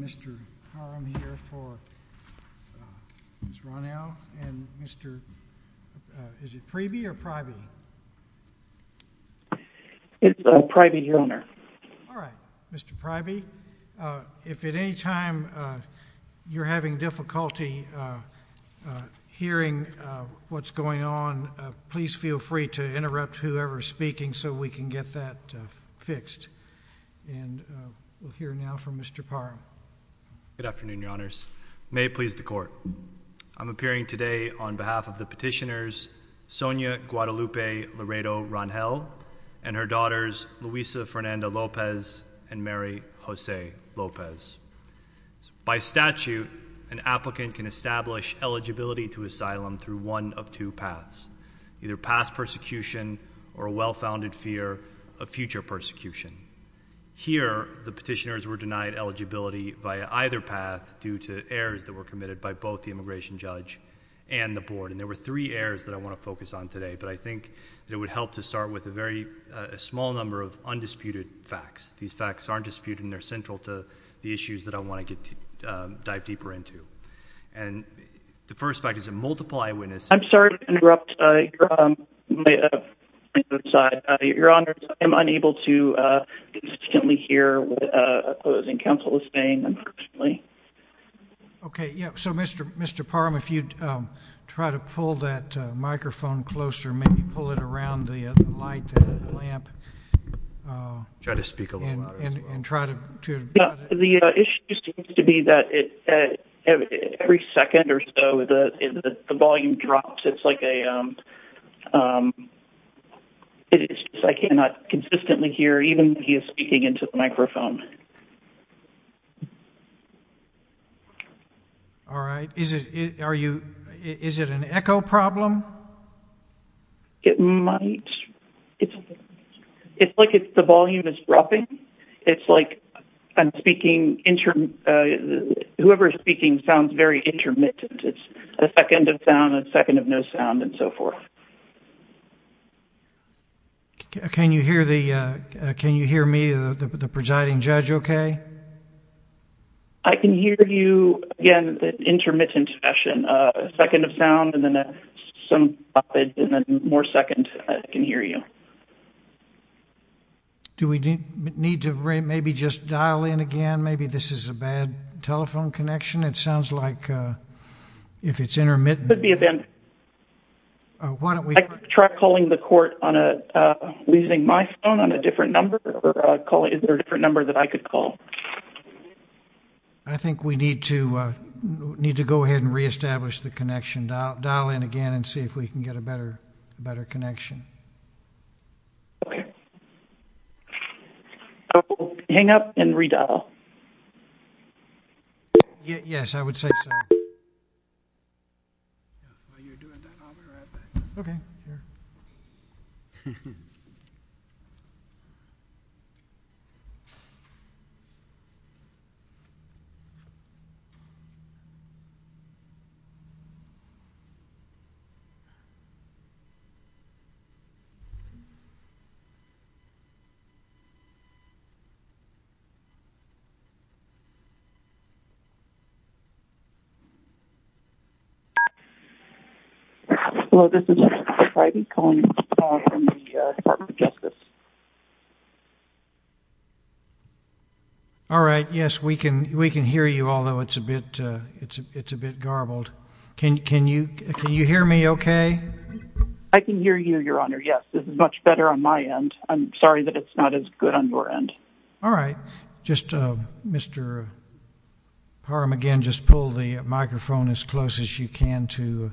Mr. Parham here for Ms. Ronau and Mr. is it Preeby or Pryby? It's Pryby, your honor. All right. Mr. Pryby, if at any time you're having difficulty hearing what's going on, please feel free to interrupt whoever is speaking so we can get that fixed. And we'll hear now from Mr. Parham. Good afternoon, your honors. May it please the court. I'm appearing today on behalf of the petitioners Sonia Guadalupe Laredo Rangel and her daughters Luisa Fernanda Lopez and Mary Jose Lopez. By statute, an applicant can establish eligibility to asylum through one of two paths, either past persecution or a well-founded fear of future persecution. Here, the petitioners were denied eligibility by either path due to errors that were committed by both the immigration judge and the board. And there were three errors that I want to focus on today, but I think it would help to start with a very small number of undisputed facts. These facts aren't disputed and they're central to the issues that I want to dive deeper into. And the first fact is a multiple eyewitness. I'm sorry to interrupt. Your honors, I'm unable to consistently hear what a closing counsel is saying, unfortunately. Okay. So, Mr. Parham, if you'd try to pull that microphone closer, maybe pull it around the light lamp. Try to speak a little louder as well. The issue seems to be that every second or so the volume drops. I cannot consistently hear even if he is speaking into the microphone. All right. Is it an echo problem? It might. It's like the volume is dropping. It's like whoever is speaking sounds very intermittent. It's a second of sound, a second of no sound, and so forth. Can you hear me, the presiding judge, okay? I can hear you. Again, intermittent session. A second of sound and then more second. I can hear you. Do we need to maybe just dial in again? Maybe this is a bad telephone connection. It sounds like if it's intermittent. Try calling the court using my phone on a different number. Is there a different number that I could call? I think we need to go ahead and reestablish the connection. Dial in again and see if we can get a better connection. Okay. Hang up and redial. Yes, I would say so. While you're doing that, I'll be right back. Okay. Hello, this is Mr. Harvey calling from the Department of Justice. All right. Yes, we can hear you, although it's a bit garbled. Can you hear me okay? I can hear you, Your Honor, yes. This is much better on my end. I'm sorry that it's not as good on your end. All right. Mr. Parham, again, just pull the microphone as close as you can to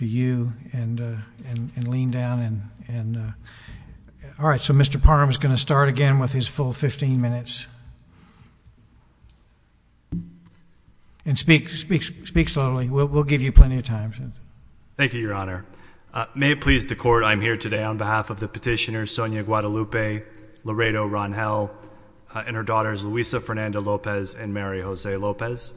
you and lean down. All right, so Mr. Parham is going to start again with his full 15 minutes. Speak slowly. We'll give you plenty of time. Thank you, Your Honor. May it please the Court, I'm here today on behalf of the petitioners, Sonia Guadalupe, Laredo Ron-Hell, and her daughters, Luisa Fernanda Lopez and Mary Jose Lopez.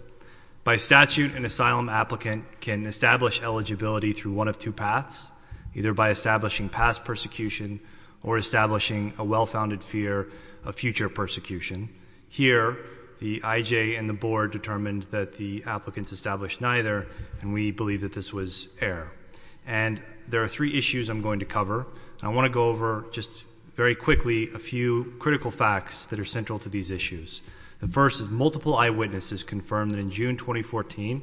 By statute, an asylum applicant can establish eligibility through one of two paths, either by establishing past persecution or establishing a well-founded fear of future persecution. Here, the IJ and the Board determined that the applicants established neither, and we believe that this was error. And there are three issues I'm going to cover. I want to go over just very quickly a few critical facts that are central to these issues. The first is multiple eyewitnesses confirmed that in June 2014,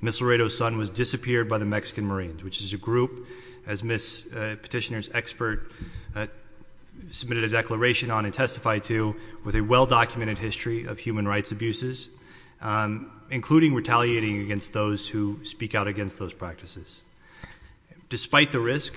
Ms. Laredo's son was disappeared by the Mexican Marines, which is a group, as Ms. Petitioner's expert submitted a declaration on and testified to, with a well-documented history of human rights abuses, including retaliating against those who speak out against those practices. Despite the risk,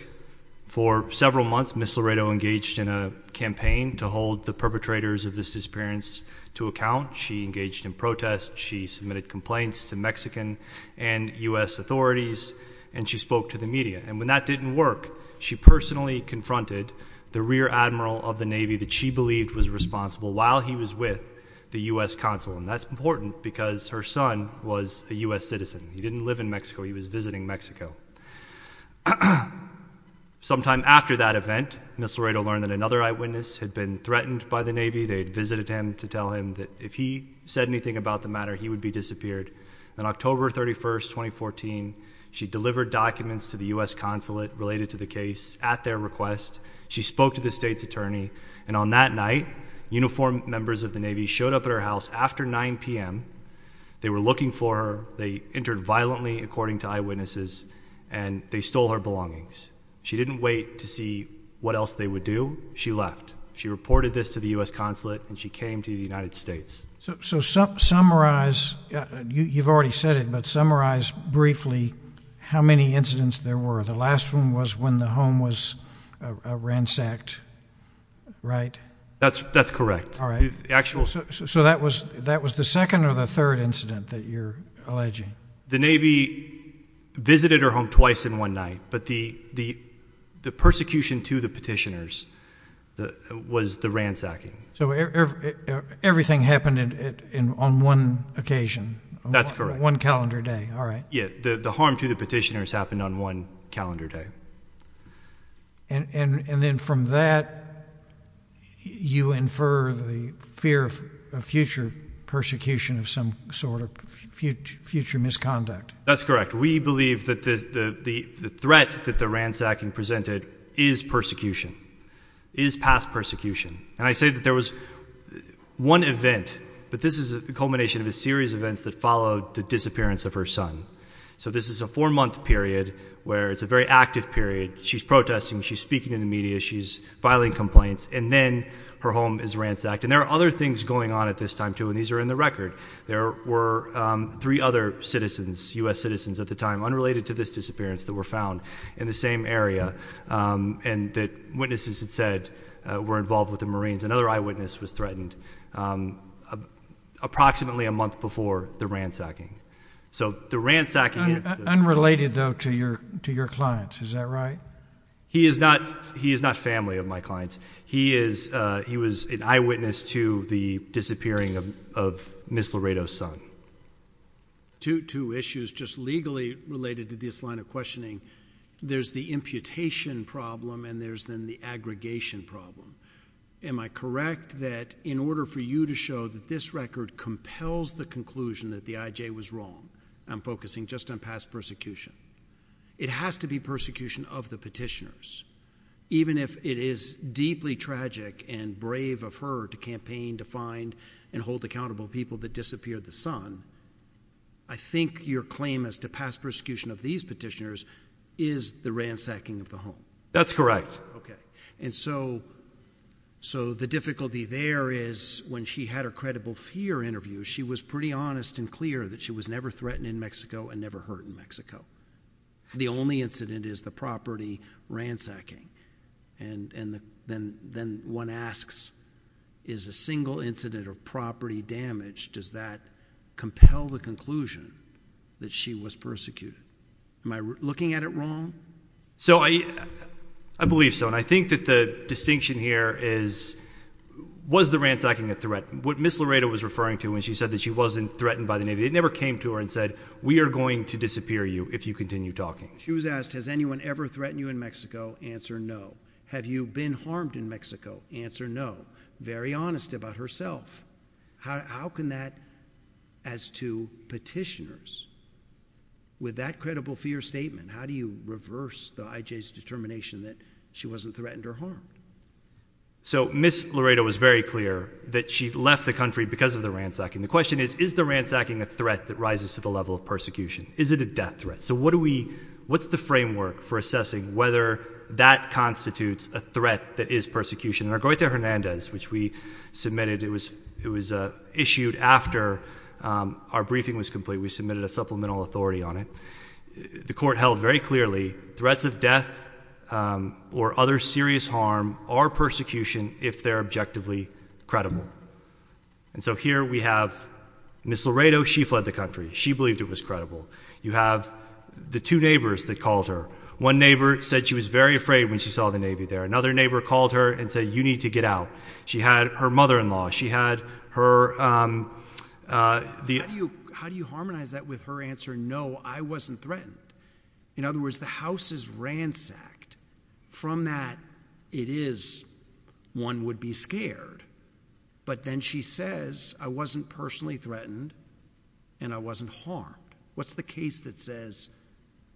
for several months, Ms. Laredo engaged in a campaign to hold the perpetrators of this disappearance to account. She engaged in protest. She submitted complaints to Mexican and U.S. authorities, and she spoke to the media. And when that didn't work, she personally confronted the rear admiral of the Navy that she believed was responsible while he was with the U.S. consul, and that's important because her son was a U.S. citizen. He didn't live in Mexico. He was visiting Mexico. Sometime after that event, Ms. Laredo learned that another eyewitness had been threatened by the Navy. They had visited him to tell him that if he said anything about the matter, he would be disappeared. On October 31, 2014, she delivered documents to the U.S. consulate related to the case at their request. She spoke to the state's attorney, and on that night, uniformed members of the Navy showed up at her house after 9 p.m. They were looking for her. They entered violently, according to eyewitnesses, and they stole her belongings. She didn't wait to see what else they would do. She left. She reported this to the U.S. consulate, and she came to the United States. So summarize, you've already said it, but summarize briefly how many incidents there were. The last one was when the home was ransacked, right? That's correct. So that was the second or the third incident that you're alleging? The Navy visited her home twice in one night, but the persecution to the petitioners was the ransacking. So everything happened on one occasion? That's correct. One calendar day, all right. Yeah, the harm to the petitioners happened on one calendar day. And then from that, you infer the fear of future persecution of some sort of future misconduct. That's correct. We believe that the threat that the ransacking presented is persecution, is past persecution. And I say that there was one event, but this is a culmination of a series of events that followed the disappearance of her son. So this is a four-month period where it's a very active period. She's protesting, she's speaking in the media, she's filing complaints, and then her home is ransacked. And there are other things going on at this time, too, and these are in the record. There were three other citizens, U.S. citizens at the time, unrelated to this disappearance, that were found in the same area and that witnesses had said were involved with the Marines. Another eyewitness was threatened approximately a month before the ransacking. Unrelated, though, to your clients, is that right? He is not family of my clients. He was an eyewitness to the disappearing of Ms. Laredo's son. Two issues just legally related to this line of questioning. There's the imputation problem and there's then the aggregation problem. Am I correct that in order for you to show that this record compels the conclusion that the I.J. was wrong, I'm focusing just on past persecution? It has to be persecution of the petitioners. Even if it is deeply tragic and brave of her to campaign to find and hold accountable people that disappeared the son, I think your claim as to past persecution of these petitioners is the ransacking of the home. That's correct. Okay. And so the difficulty there is when she had her credible fear interview, she was pretty honest and clear that she was never threatened in Mexico and never hurt in Mexico. The only incident is the property ransacking, and then one asks is a single incident of property damage, does that compel the conclusion that she was persecuted? Am I looking at it wrong? I believe so, and I think that the distinction here is was the ransacking a threat? What Ms. Laredo was referring to when she said that she wasn't threatened by the Navy, it never came to her and said we are going to disappear you if you continue talking. She was asked has anyone ever threatened you in Mexico? Answer, no. Have you been harmed in Mexico? Answer, no. Very honest about herself. How can that, as to petitioners, with that credible fear statement, how do you reverse the I.J.'s determination that she wasn't threatened or harmed? So Ms. Laredo was very clear that she left the country because of the ransacking. The question is, is the ransacking a threat that rises to the level of persecution? Is it a death threat? So what do we, what's the framework for assessing whether that constitutes a threat that is persecution? In our Goita Hernandez, which we submitted, it was issued after our briefing was complete. We submitted a supplemental authority on it. The court held very clearly threats of death or other serious harm are persecution if they're objectively credible. And so here we have Ms. Laredo, she fled the country. She believed it was credible. You have the two neighbors that called her. One neighbor said she was very afraid when she saw the Navy there. Another neighbor called her and said you need to get out. She had her mother-in-law. She had her— How do you harmonize that with her answer? No, I wasn't threatened. In other words, the house is ransacked. From that, it is one would be scared. But then she says I wasn't personally threatened and I wasn't harmed. What's the case that says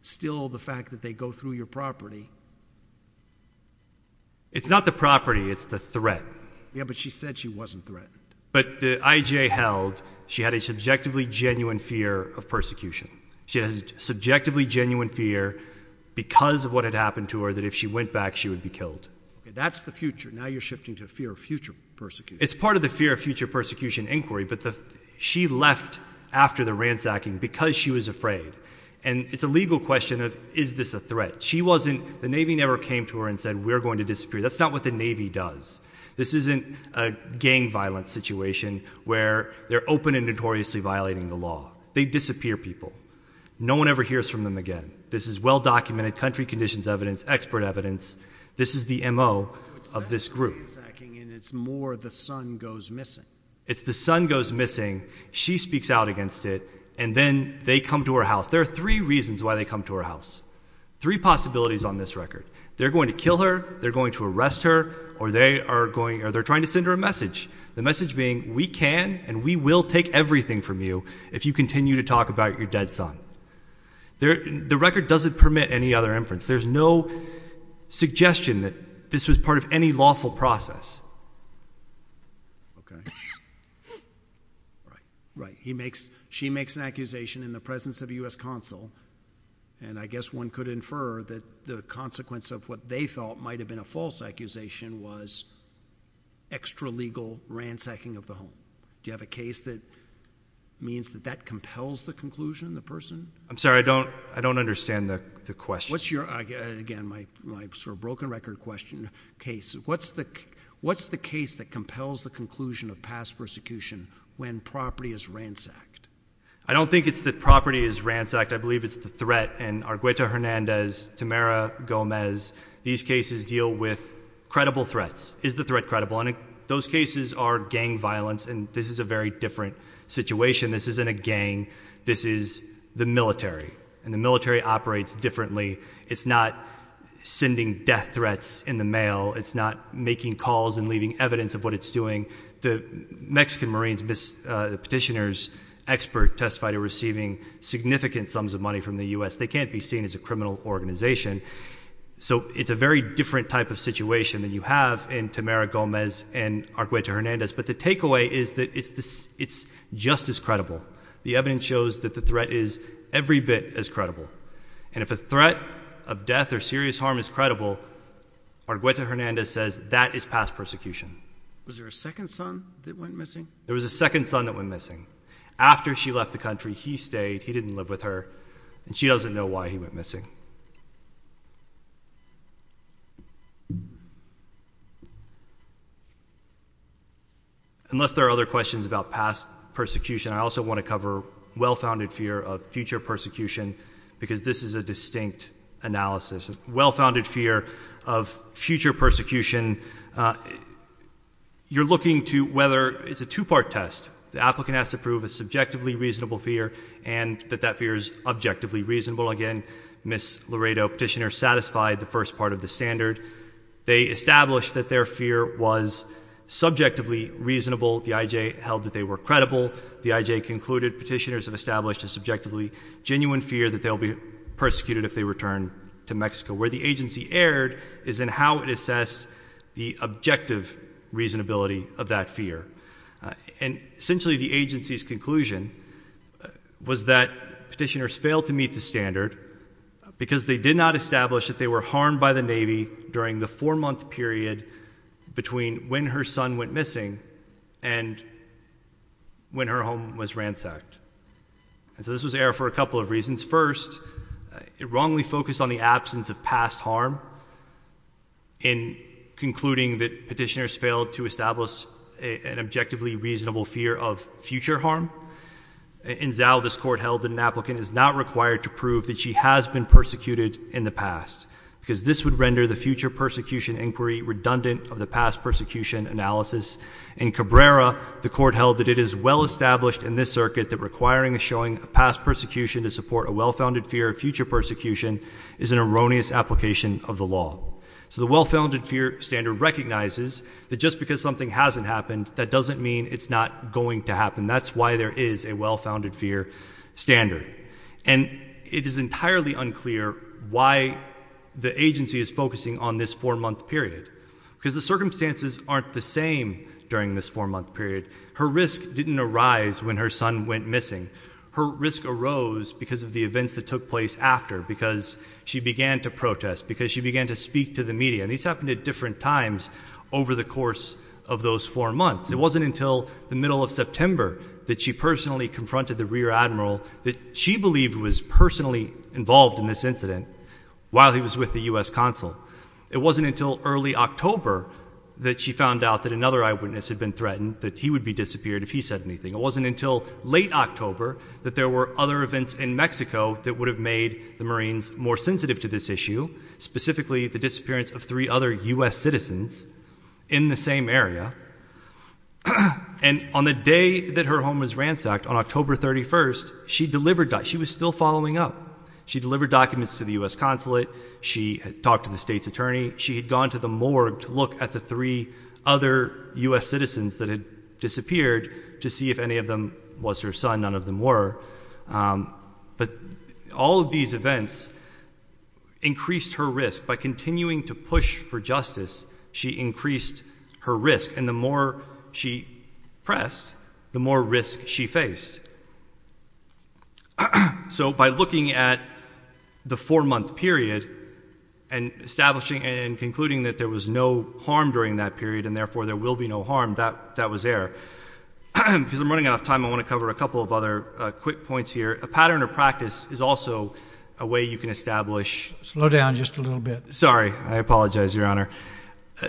still the fact that they go through your property? It's not the property. It's the threat. Yeah, but she said she wasn't threatened. But the IJ held she had a subjectively genuine fear of persecution. She had a subjectively genuine fear because of what had happened to her that if she went back, she would be killed. That's the future. Now you're shifting to fear of future persecution. It's part of the fear of future persecution inquiry. But she left after the ransacking because she was afraid. And it's a legal question of is this a threat. She wasn't—the Navy never came to her and said we're going to disappear. That's not what the Navy does. This isn't a gang violence situation where they're open and notoriously violating the law. They disappear people. No one ever hears from them again. This is well-documented, country conditions evidence, expert evidence. This is the MO of this group. So it's less ransacking and it's more the son goes missing. It's the son goes missing. She speaks out against it. And then they come to her house. There are three reasons why they come to her house. Three possibilities on this record. They're going to kill her, they're going to arrest her, or they're trying to send her a message. The message being we can and we will take everything from you if you continue to talk about your dead son. The record doesn't permit any other inference. There's no suggestion that this was part of any lawful process. Right. She makes an accusation in the presence of a U.S. consul. And I guess one could infer that the consequence of what they felt might have been a false accusation was extra-legal ransacking of the home. Do you have a case that means that that compels the conclusion, the person? I'm sorry. I don't understand the question. What's your, again, my sort of broken record question, case. What's the case that compels the conclusion of past persecution when property is ransacked? I don't think it's that property is ransacked. I believe it's the threat. And Argueto Hernandez, Tamara Gomez, these cases deal with credible threats. Is the threat credible? And those cases are gang violence, and this is a very different situation. This isn't a gang. This is the military. And the military operates differently. It's not sending death threats in the mail. It's not making calls and leaving evidence of what it's doing. The Mexican Marines, the petitioner's expert testified, are receiving significant sums of money from the U.S. They can't be seen as a criminal organization. So it's a very different type of situation than you have in Tamara Gomez and Argueto Hernandez. But the takeaway is that it's just as credible. The evidence shows that the threat is every bit as credible. And if a threat of death or serious harm is credible, Argueto Hernandez says that is past persecution. Was there a second son that went missing? There was a second son that went missing. After she left the country, he stayed. He didn't live with her, and she doesn't know why he went missing. Unless there are other questions about past persecution, I also want to cover well-founded fear of future persecution because this is a distinct analysis. It's a well-founded fear of future persecution. You're looking to whether it's a two-part test. The applicant has to prove a subjectively reasonable fear and that that fear is objectively reasonable. Again, Ms. Laredo, petitioner, satisfied the first part of the standard. They established that their fear was subjectively reasonable. The IJ held that they were credible. The IJ concluded petitioners have established a subjectively genuine fear that they'll be persecuted if they return to Mexico. Where the agency erred is in how it assessed the objective reasonability of that fear. And essentially the agency's conclusion was that petitioners failed to meet the standard because they did not establish that they were harmed by the Navy during the four-month period between when her son went missing and when her home was ransacked. And so this was error for a couple of reasons. First, it wrongly focused on the absence of past harm in concluding that petitioners failed to establish an objectively reasonable fear of future harm. In Zao, this court held that an applicant is not required to prove that she has been persecuted in the past because this would render the future persecution inquiry redundant of the past persecution analysis. In Cabrera, the court held that it is well established in this circuit that requiring a showing of past persecution to support a well-founded fear of future persecution is an erroneous application of the law. So the well-founded fear standard recognizes that just because something hasn't happened, that doesn't mean it's not going to happen. That's why there is a well-founded fear standard. And it is entirely unclear why the agency is focusing on this four-month period because the circumstances aren't the same during this four-month period. Her risk didn't arise when her son went missing. Her risk arose because of the events that took place after, because she began to protest, because she began to speak to the media. And these happened at different times over the course of those four months. It wasn't until the middle of September that she personally confronted the rear admiral that she believed was personally involved in this incident while he was with the U.S. Consul. It wasn't until early October that she found out that another eyewitness had been threatened, that he would be disappeared if he said anything. It wasn't until late October that there were other events in Mexico that would have made the Marines more sensitive to this issue, specifically the disappearance of three other U.S. citizens in the same area. And on the day that her home was ransacked, on October 31st, she delivered documents. She was still following up. She delivered documents to the U.S. Consulate. She had talked to the state's attorney. She had gone to the morgue to look at the three other U.S. citizens that had disappeared to see if any of them was her son. None of them were. But all of these events increased her risk. By continuing to push for justice, she increased her risk, and the more she pressed, the more risk she faced. So by looking at the four-month period and establishing and concluding that there was no harm during that period and therefore there will be no harm, that was error. Because I'm running out of time, I want to cover a couple of other quick points here. A pattern or practice is also a way you can establish. Slow down just a little bit. Sorry. I apologize, Your Honor.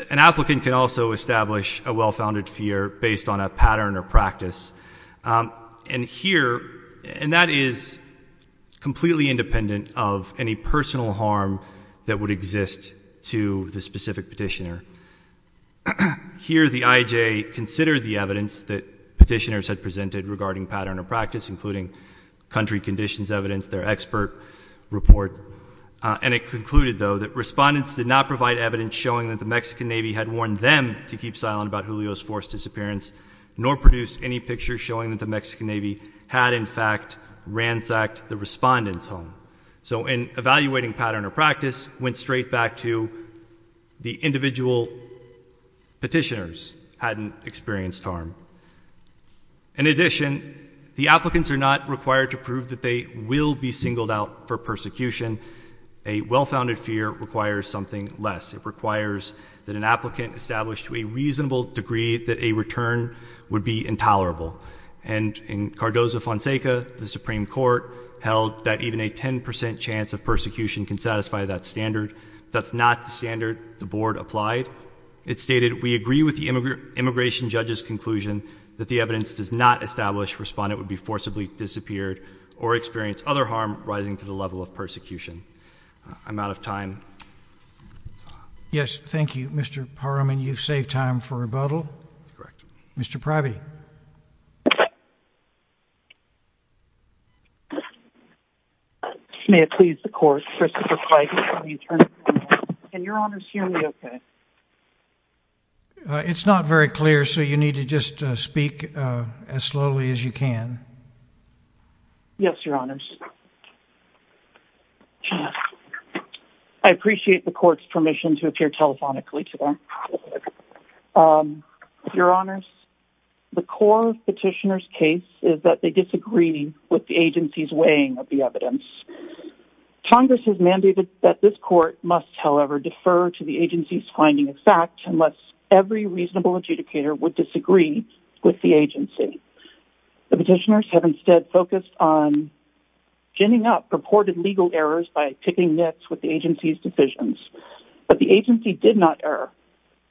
An applicant can also establish a well-founded fear based on a pattern or practice. And here, and that is completely independent of any personal harm that would exist to the specific petitioner. Here, the IJA considered the evidence that petitioners had presented regarding pattern or practice, including country conditions evidence, their expert report. And it concluded, though, that respondents did not provide evidence showing that the Mexican Navy had warned them to keep silent about Julio's forced disappearance, nor produced any pictures showing that the Mexican Navy had, in fact, ransacked the respondent's home. So an evaluating pattern or practice went straight back to the individual petitioners hadn't experienced harm. In addition, the applicants are not required to prove that they will be singled out for persecution. A well-founded fear requires something less. It requires that an applicant establish to a reasonable degree that a return would be intolerable. And in Cardozo-Fonseca, the Supreme Court held that even a 10 percent chance of persecution can satisfy that standard. That's not the standard the Board applied. It stated, we agree with the immigration judge's conclusion that the evidence does not establish a respondent would be forcibly disappeared or experience other harm rising to the level of persecution. I'm out of time. Yes, thank you, Mr. Parham. And you've saved time for rebuttal. Mr. Priby. May it please the Court, Christopher Price, attorney general. Can your Honors hear me okay? It's not very clear, so you need to just speak as slowly as you can. Yes, Your Honors. I appreciate the Court's permission to appear telephonically today. Your Honors, the core of the petitioner's case is that they disagree with the agency's weighing of the evidence. Congress has mandated that this Court must, however, defer to the agency's finding of fact unless every reasonable adjudicator would disagree with the agency. The petitioners have instead focused on ginning up purported legal errors by picking nits with the agency's decisions. But the agency did not err.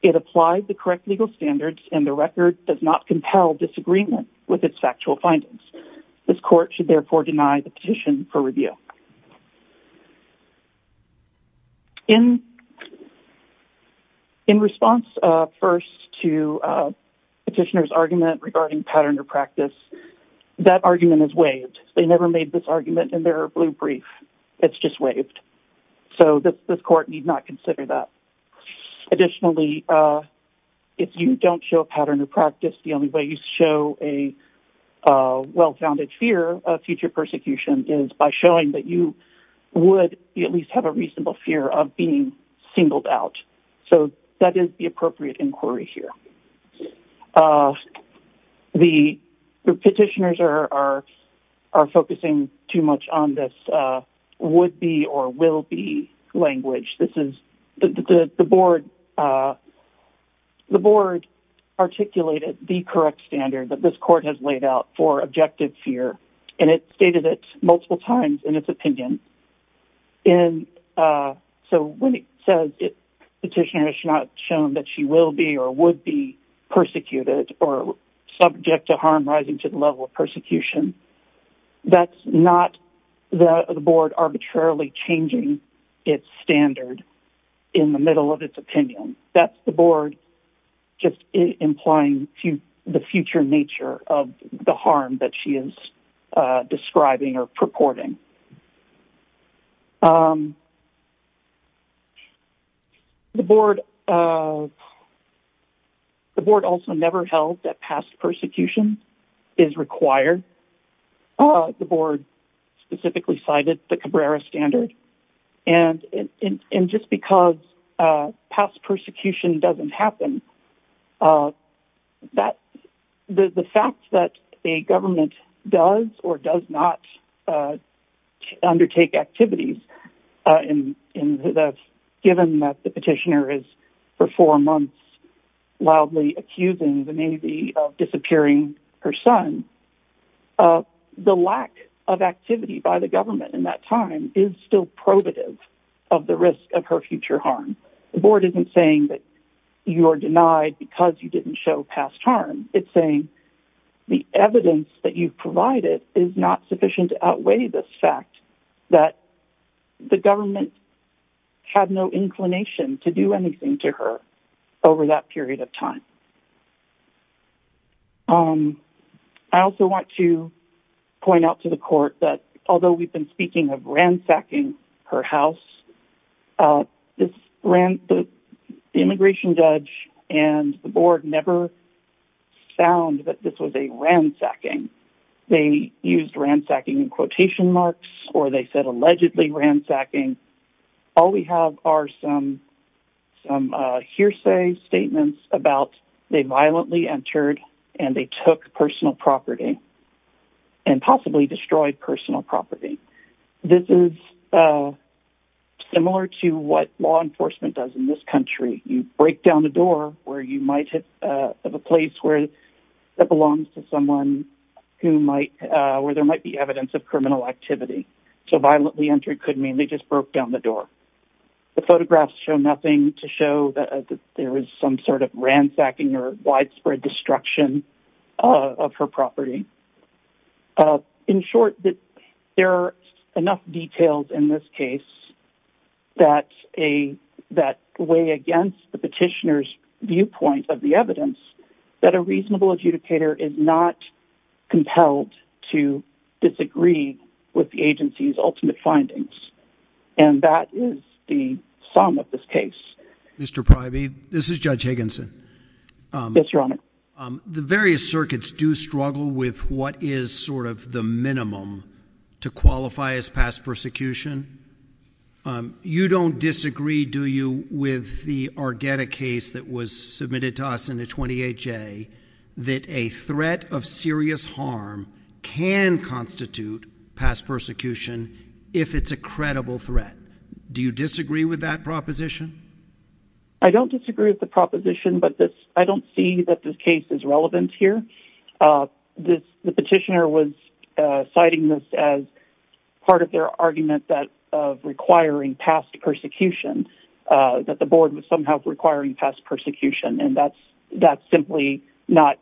It applied the correct legal standards, and the record does not compel disagreement with its factual findings. This Court should therefore deny the petition for review. In response, first, to the petitioner's argument regarding pattern or practice, that argument is waived. They never made this argument in their blue brief. It's just waived. So this Court need not consider that. Additionally, if you don't show pattern or practice, the only way you show a well-founded fear of future persecution is by showing that you would at least have a reasonable fear of being singled out. So that is the appropriate inquiry here. The petitioners are focusing too much on this would-be or will-be language. The Board articulated the correct standard that this Court has laid out for objective fear, and it stated it multiple times in its opinion. So when it says the petitioner is not shown that she will be or would be persecuted or subject to harm rising to the level of persecution, that's not the Board arbitrarily changing its standard in the middle of its opinion. That's the Board just implying the future nature of the harm that she is describing or purporting. The Board also never held that past persecution is required. The Board specifically cited the Cabrera standard. And just because past persecution doesn't happen, the fact that a government does or does not undertake activities, given that the petitioner is for four months loudly accusing the Navy of disappearing her son, the lack of activity by the government in that time is still probative of the risk of her future harm. The Board isn't saying that you are denied because you didn't show past harm. It's saying the evidence that you've provided is not sufficient to outweigh the fact that the government had no inclination to do anything to her over that period of time. I also want to point out to the Court that although we've been speaking of ransacking her house, the Immigration Judge and the Board never found that this was a ransacking. They used ransacking in quotation marks or they said allegedly ransacking. All we have are some hearsay statements about they violently entered and they took personal property and possibly destroyed personal property. This is similar to what law enforcement does in this country. You break down the door of a place that belongs to someone where there might be evidence of criminal activity. So violently entered could mean they just broke down the door. The photographs show nothing to show that there was some sort of ransacking or widespread destruction of her property. In short, there are enough details in this case that weigh against the petitioner's viewpoint of the evidence that a reasonable adjudicator is not compelled to disagree with the agency's ultimate findings. And that is the sum of this case. Mr. Privey, this is Judge Higginson. Yes, Your Honor. The various circuits do struggle with what is sort of the minimum to qualify as past persecution. You don't disagree, do you, with the Argetta case that was submitted to us in the 28-J that a threat of serious harm can constitute past persecution if it's a credible threat. Do you disagree with that proposition? I don't disagree with the proposition, but I don't see that this case is relevant here. The petitioner was citing this as part of their argument of requiring past persecution, that the board was somehow requiring past persecution, and that's simply not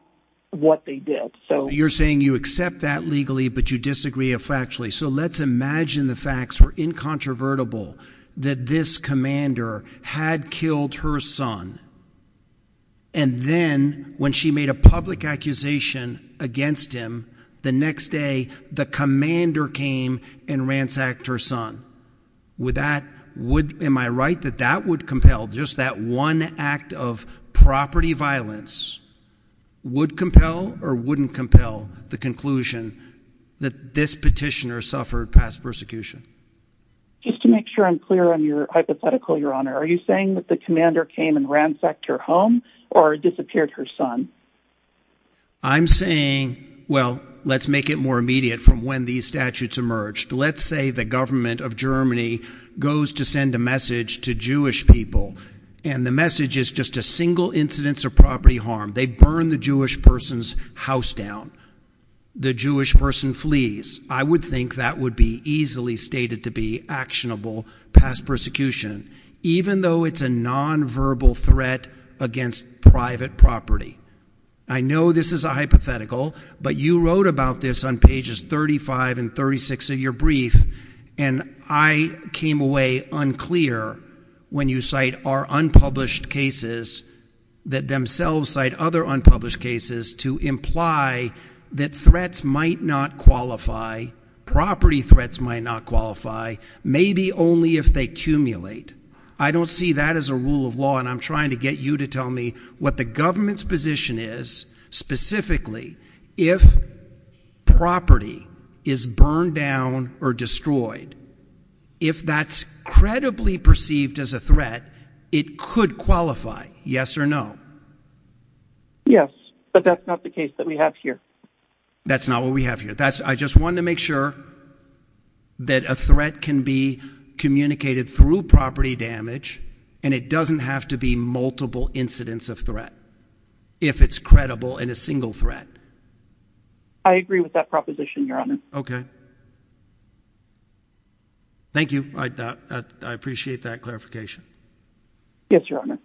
what they did. So you're saying you accept that legally, but you disagree effectually. So let's imagine the facts were incontrovertible that this commander had killed her son, and then when she made a public accusation against him, the next day the commander came and ransacked her son. Am I right that that would compel, just that one act of property violence, would compel or wouldn't compel the conclusion that this petitioner suffered past persecution? Just to make sure I'm clear on your hypothetical, Your Honor, are you saying that the commander came and ransacked her home or disappeared her son? I'm saying, well, let's make it more immediate from when these statutes emerged. Let's say the government of Germany goes to send a message to Jewish people, and the message is just a single incidence of property harm. They burn the Jewish person's house down. The Jewish person flees. I would think that would be easily stated to be actionable past persecution. Even though it's a nonverbal threat against private property. I know this is a hypothetical, but you wrote about this on pages 35 and 36 of your brief, and I came away unclear when you cite our unpublished cases that themselves cite other unpublished cases to imply that threats might not qualify, property threats might not qualify, maybe only if they accumulate. I don't see that as a rule of law, and I'm trying to get you to tell me what the government's position is, specifically if property is burned down or destroyed, if that's credibly perceived as a threat, it could qualify, yes or no? Yes, but that's not the case that we have here. That's not what we have here. I just wanted to make sure that a threat can be communicated through property damage, and it doesn't have to be multiple incidents of threat if it's credible in a single threat. I agree with that proposition, Your Honor. Okay. Thank you. I appreciate that clarification. Yes, Your Honor.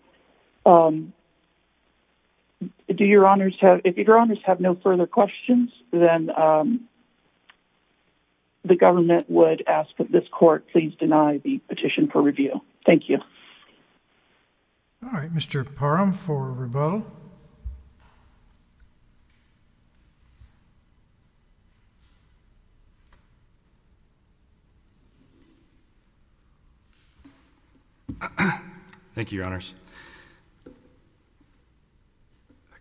If Your Honors have no further questions, then the government would ask that this court please deny the petition for review. Thank you. All right. Mr. Parham for rebuttal. Thank you, Your Honors.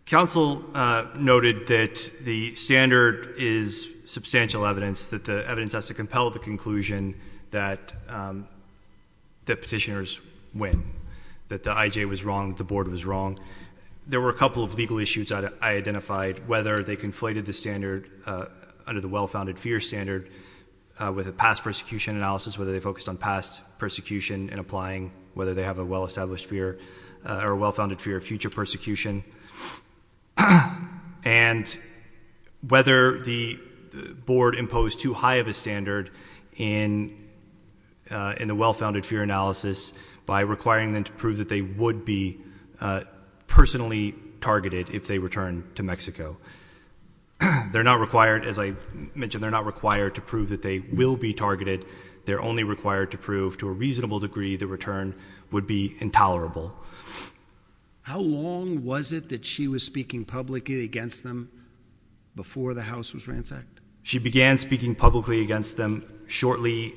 Counsel noted that the standard is substantial evidence, that the evidence has to compel the conclusion that petitioners win, that the IJ was wrong, the board was wrong. There were a couple of legal issues I identified, whether they conflated the standard under the well-founded fear standard with a past persecution analysis, whether they focused on past persecution and applying whether they have a well-established fear or a well-founded fear of future persecution, and whether the board imposed too high of a standard in the well-founded fear analysis by requiring them to prove that they would be personally targeted if they return to Mexico. They're not required, as I mentioned, they're not required to prove that they will be targeted. They're only required to prove to a reasonable degree the return would be intolerable. How long was it that she was speaking publicly against them before the house was ransacked? She began speaking publicly against them shortly,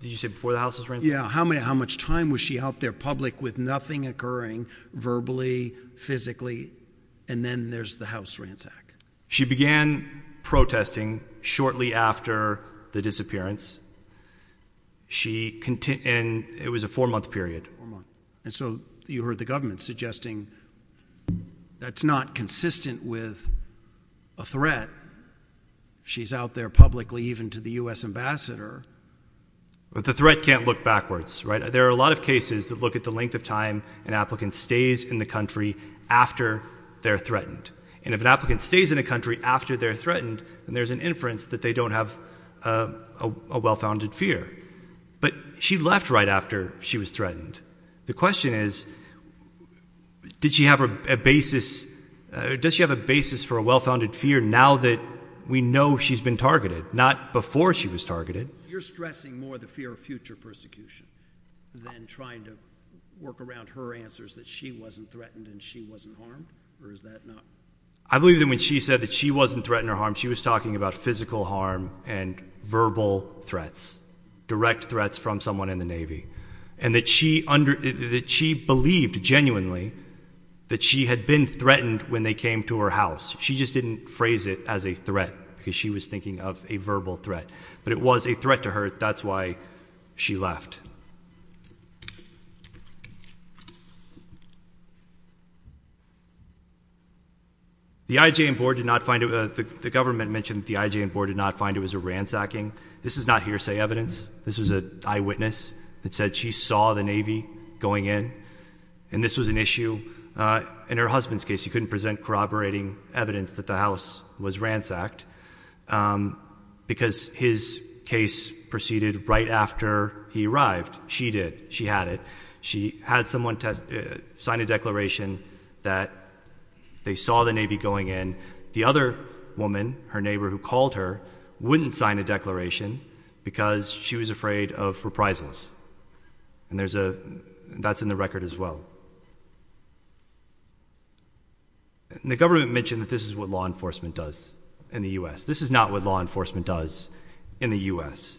did you say before the house was ransacked? Yeah, how much time was she out there public with nothing occurring, verbally, physically, and then there's the house ransack. She began protesting shortly after the disappearance, and it was a four-month period. And so you heard the government suggesting that's not consistent with a threat. She's out there publicly even to the U.S. ambassador. But the threat can't look backwards, right? There are a lot of cases that look at the length of time an applicant stays in the country after they're threatened. And if an applicant stays in a country after they're threatened, then there's an inference that they don't have a well-founded fear. But she left right after she was threatened. The question is, did she have a basis for a well-founded fear now that we know she's been targeted, not before she was targeted. You're stressing more the fear of future persecution than trying to work around her answers that she wasn't threatened and she wasn't harmed, or is that not? I believe that when she said that she wasn't threatened or harmed, she was talking about physical harm and verbal threats, direct threats from someone in the Navy, and that she believed genuinely that she had been threatened when they came to her house. She just didn't phrase it as a threat because she was thinking of a verbal threat. But it was a threat to her. That's why she left. The IJN board did not find it was a ransacking. This is not hearsay evidence. This was an eyewitness that said she saw the Navy going in, and this was an issue. In her husband's case, he couldn't present corroborating evidence that the house was ransacked because his case proceeded right after he arrived. She did. She had it. She had someone sign a declaration that they saw the Navy going in. The other woman, her neighbor who called her, wouldn't sign a declaration because she was afraid of reprisals. And that's in the record as well. The government mentioned that this is what law enforcement does in the U.S. This is not what law enforcement does in the U.S.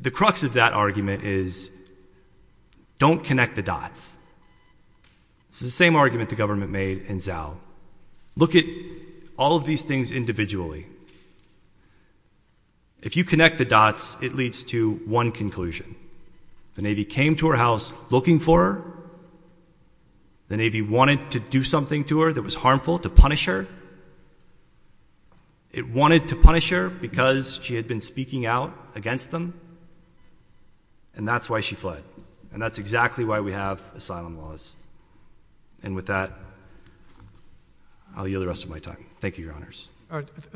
The crux of that argument is don't connect the dots. This is the same argument the government made in Zhao. Look at all of these things individually. If you connect the dots, it leads to one conclusion. The Navy came to her house looking for her. The Navy wanted to do something to her that was harmful to punish her. It wanted to punish her because she had been speaking out against them, and that's why she fled. And that's exactly why we have asylum laws. And with that, I'll yield the rest of my time. Thank you, Your Honors.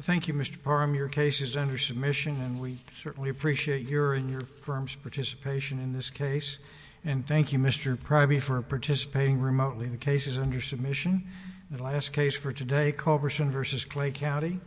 Thank you, Mr. Parham. Your case is under submission, and we certainly appreciate your and your firm's participation in this case. And thank you, Mr. Priby, for participating remotely. The case is under submission. The last case for today, Culberson v. Clay County.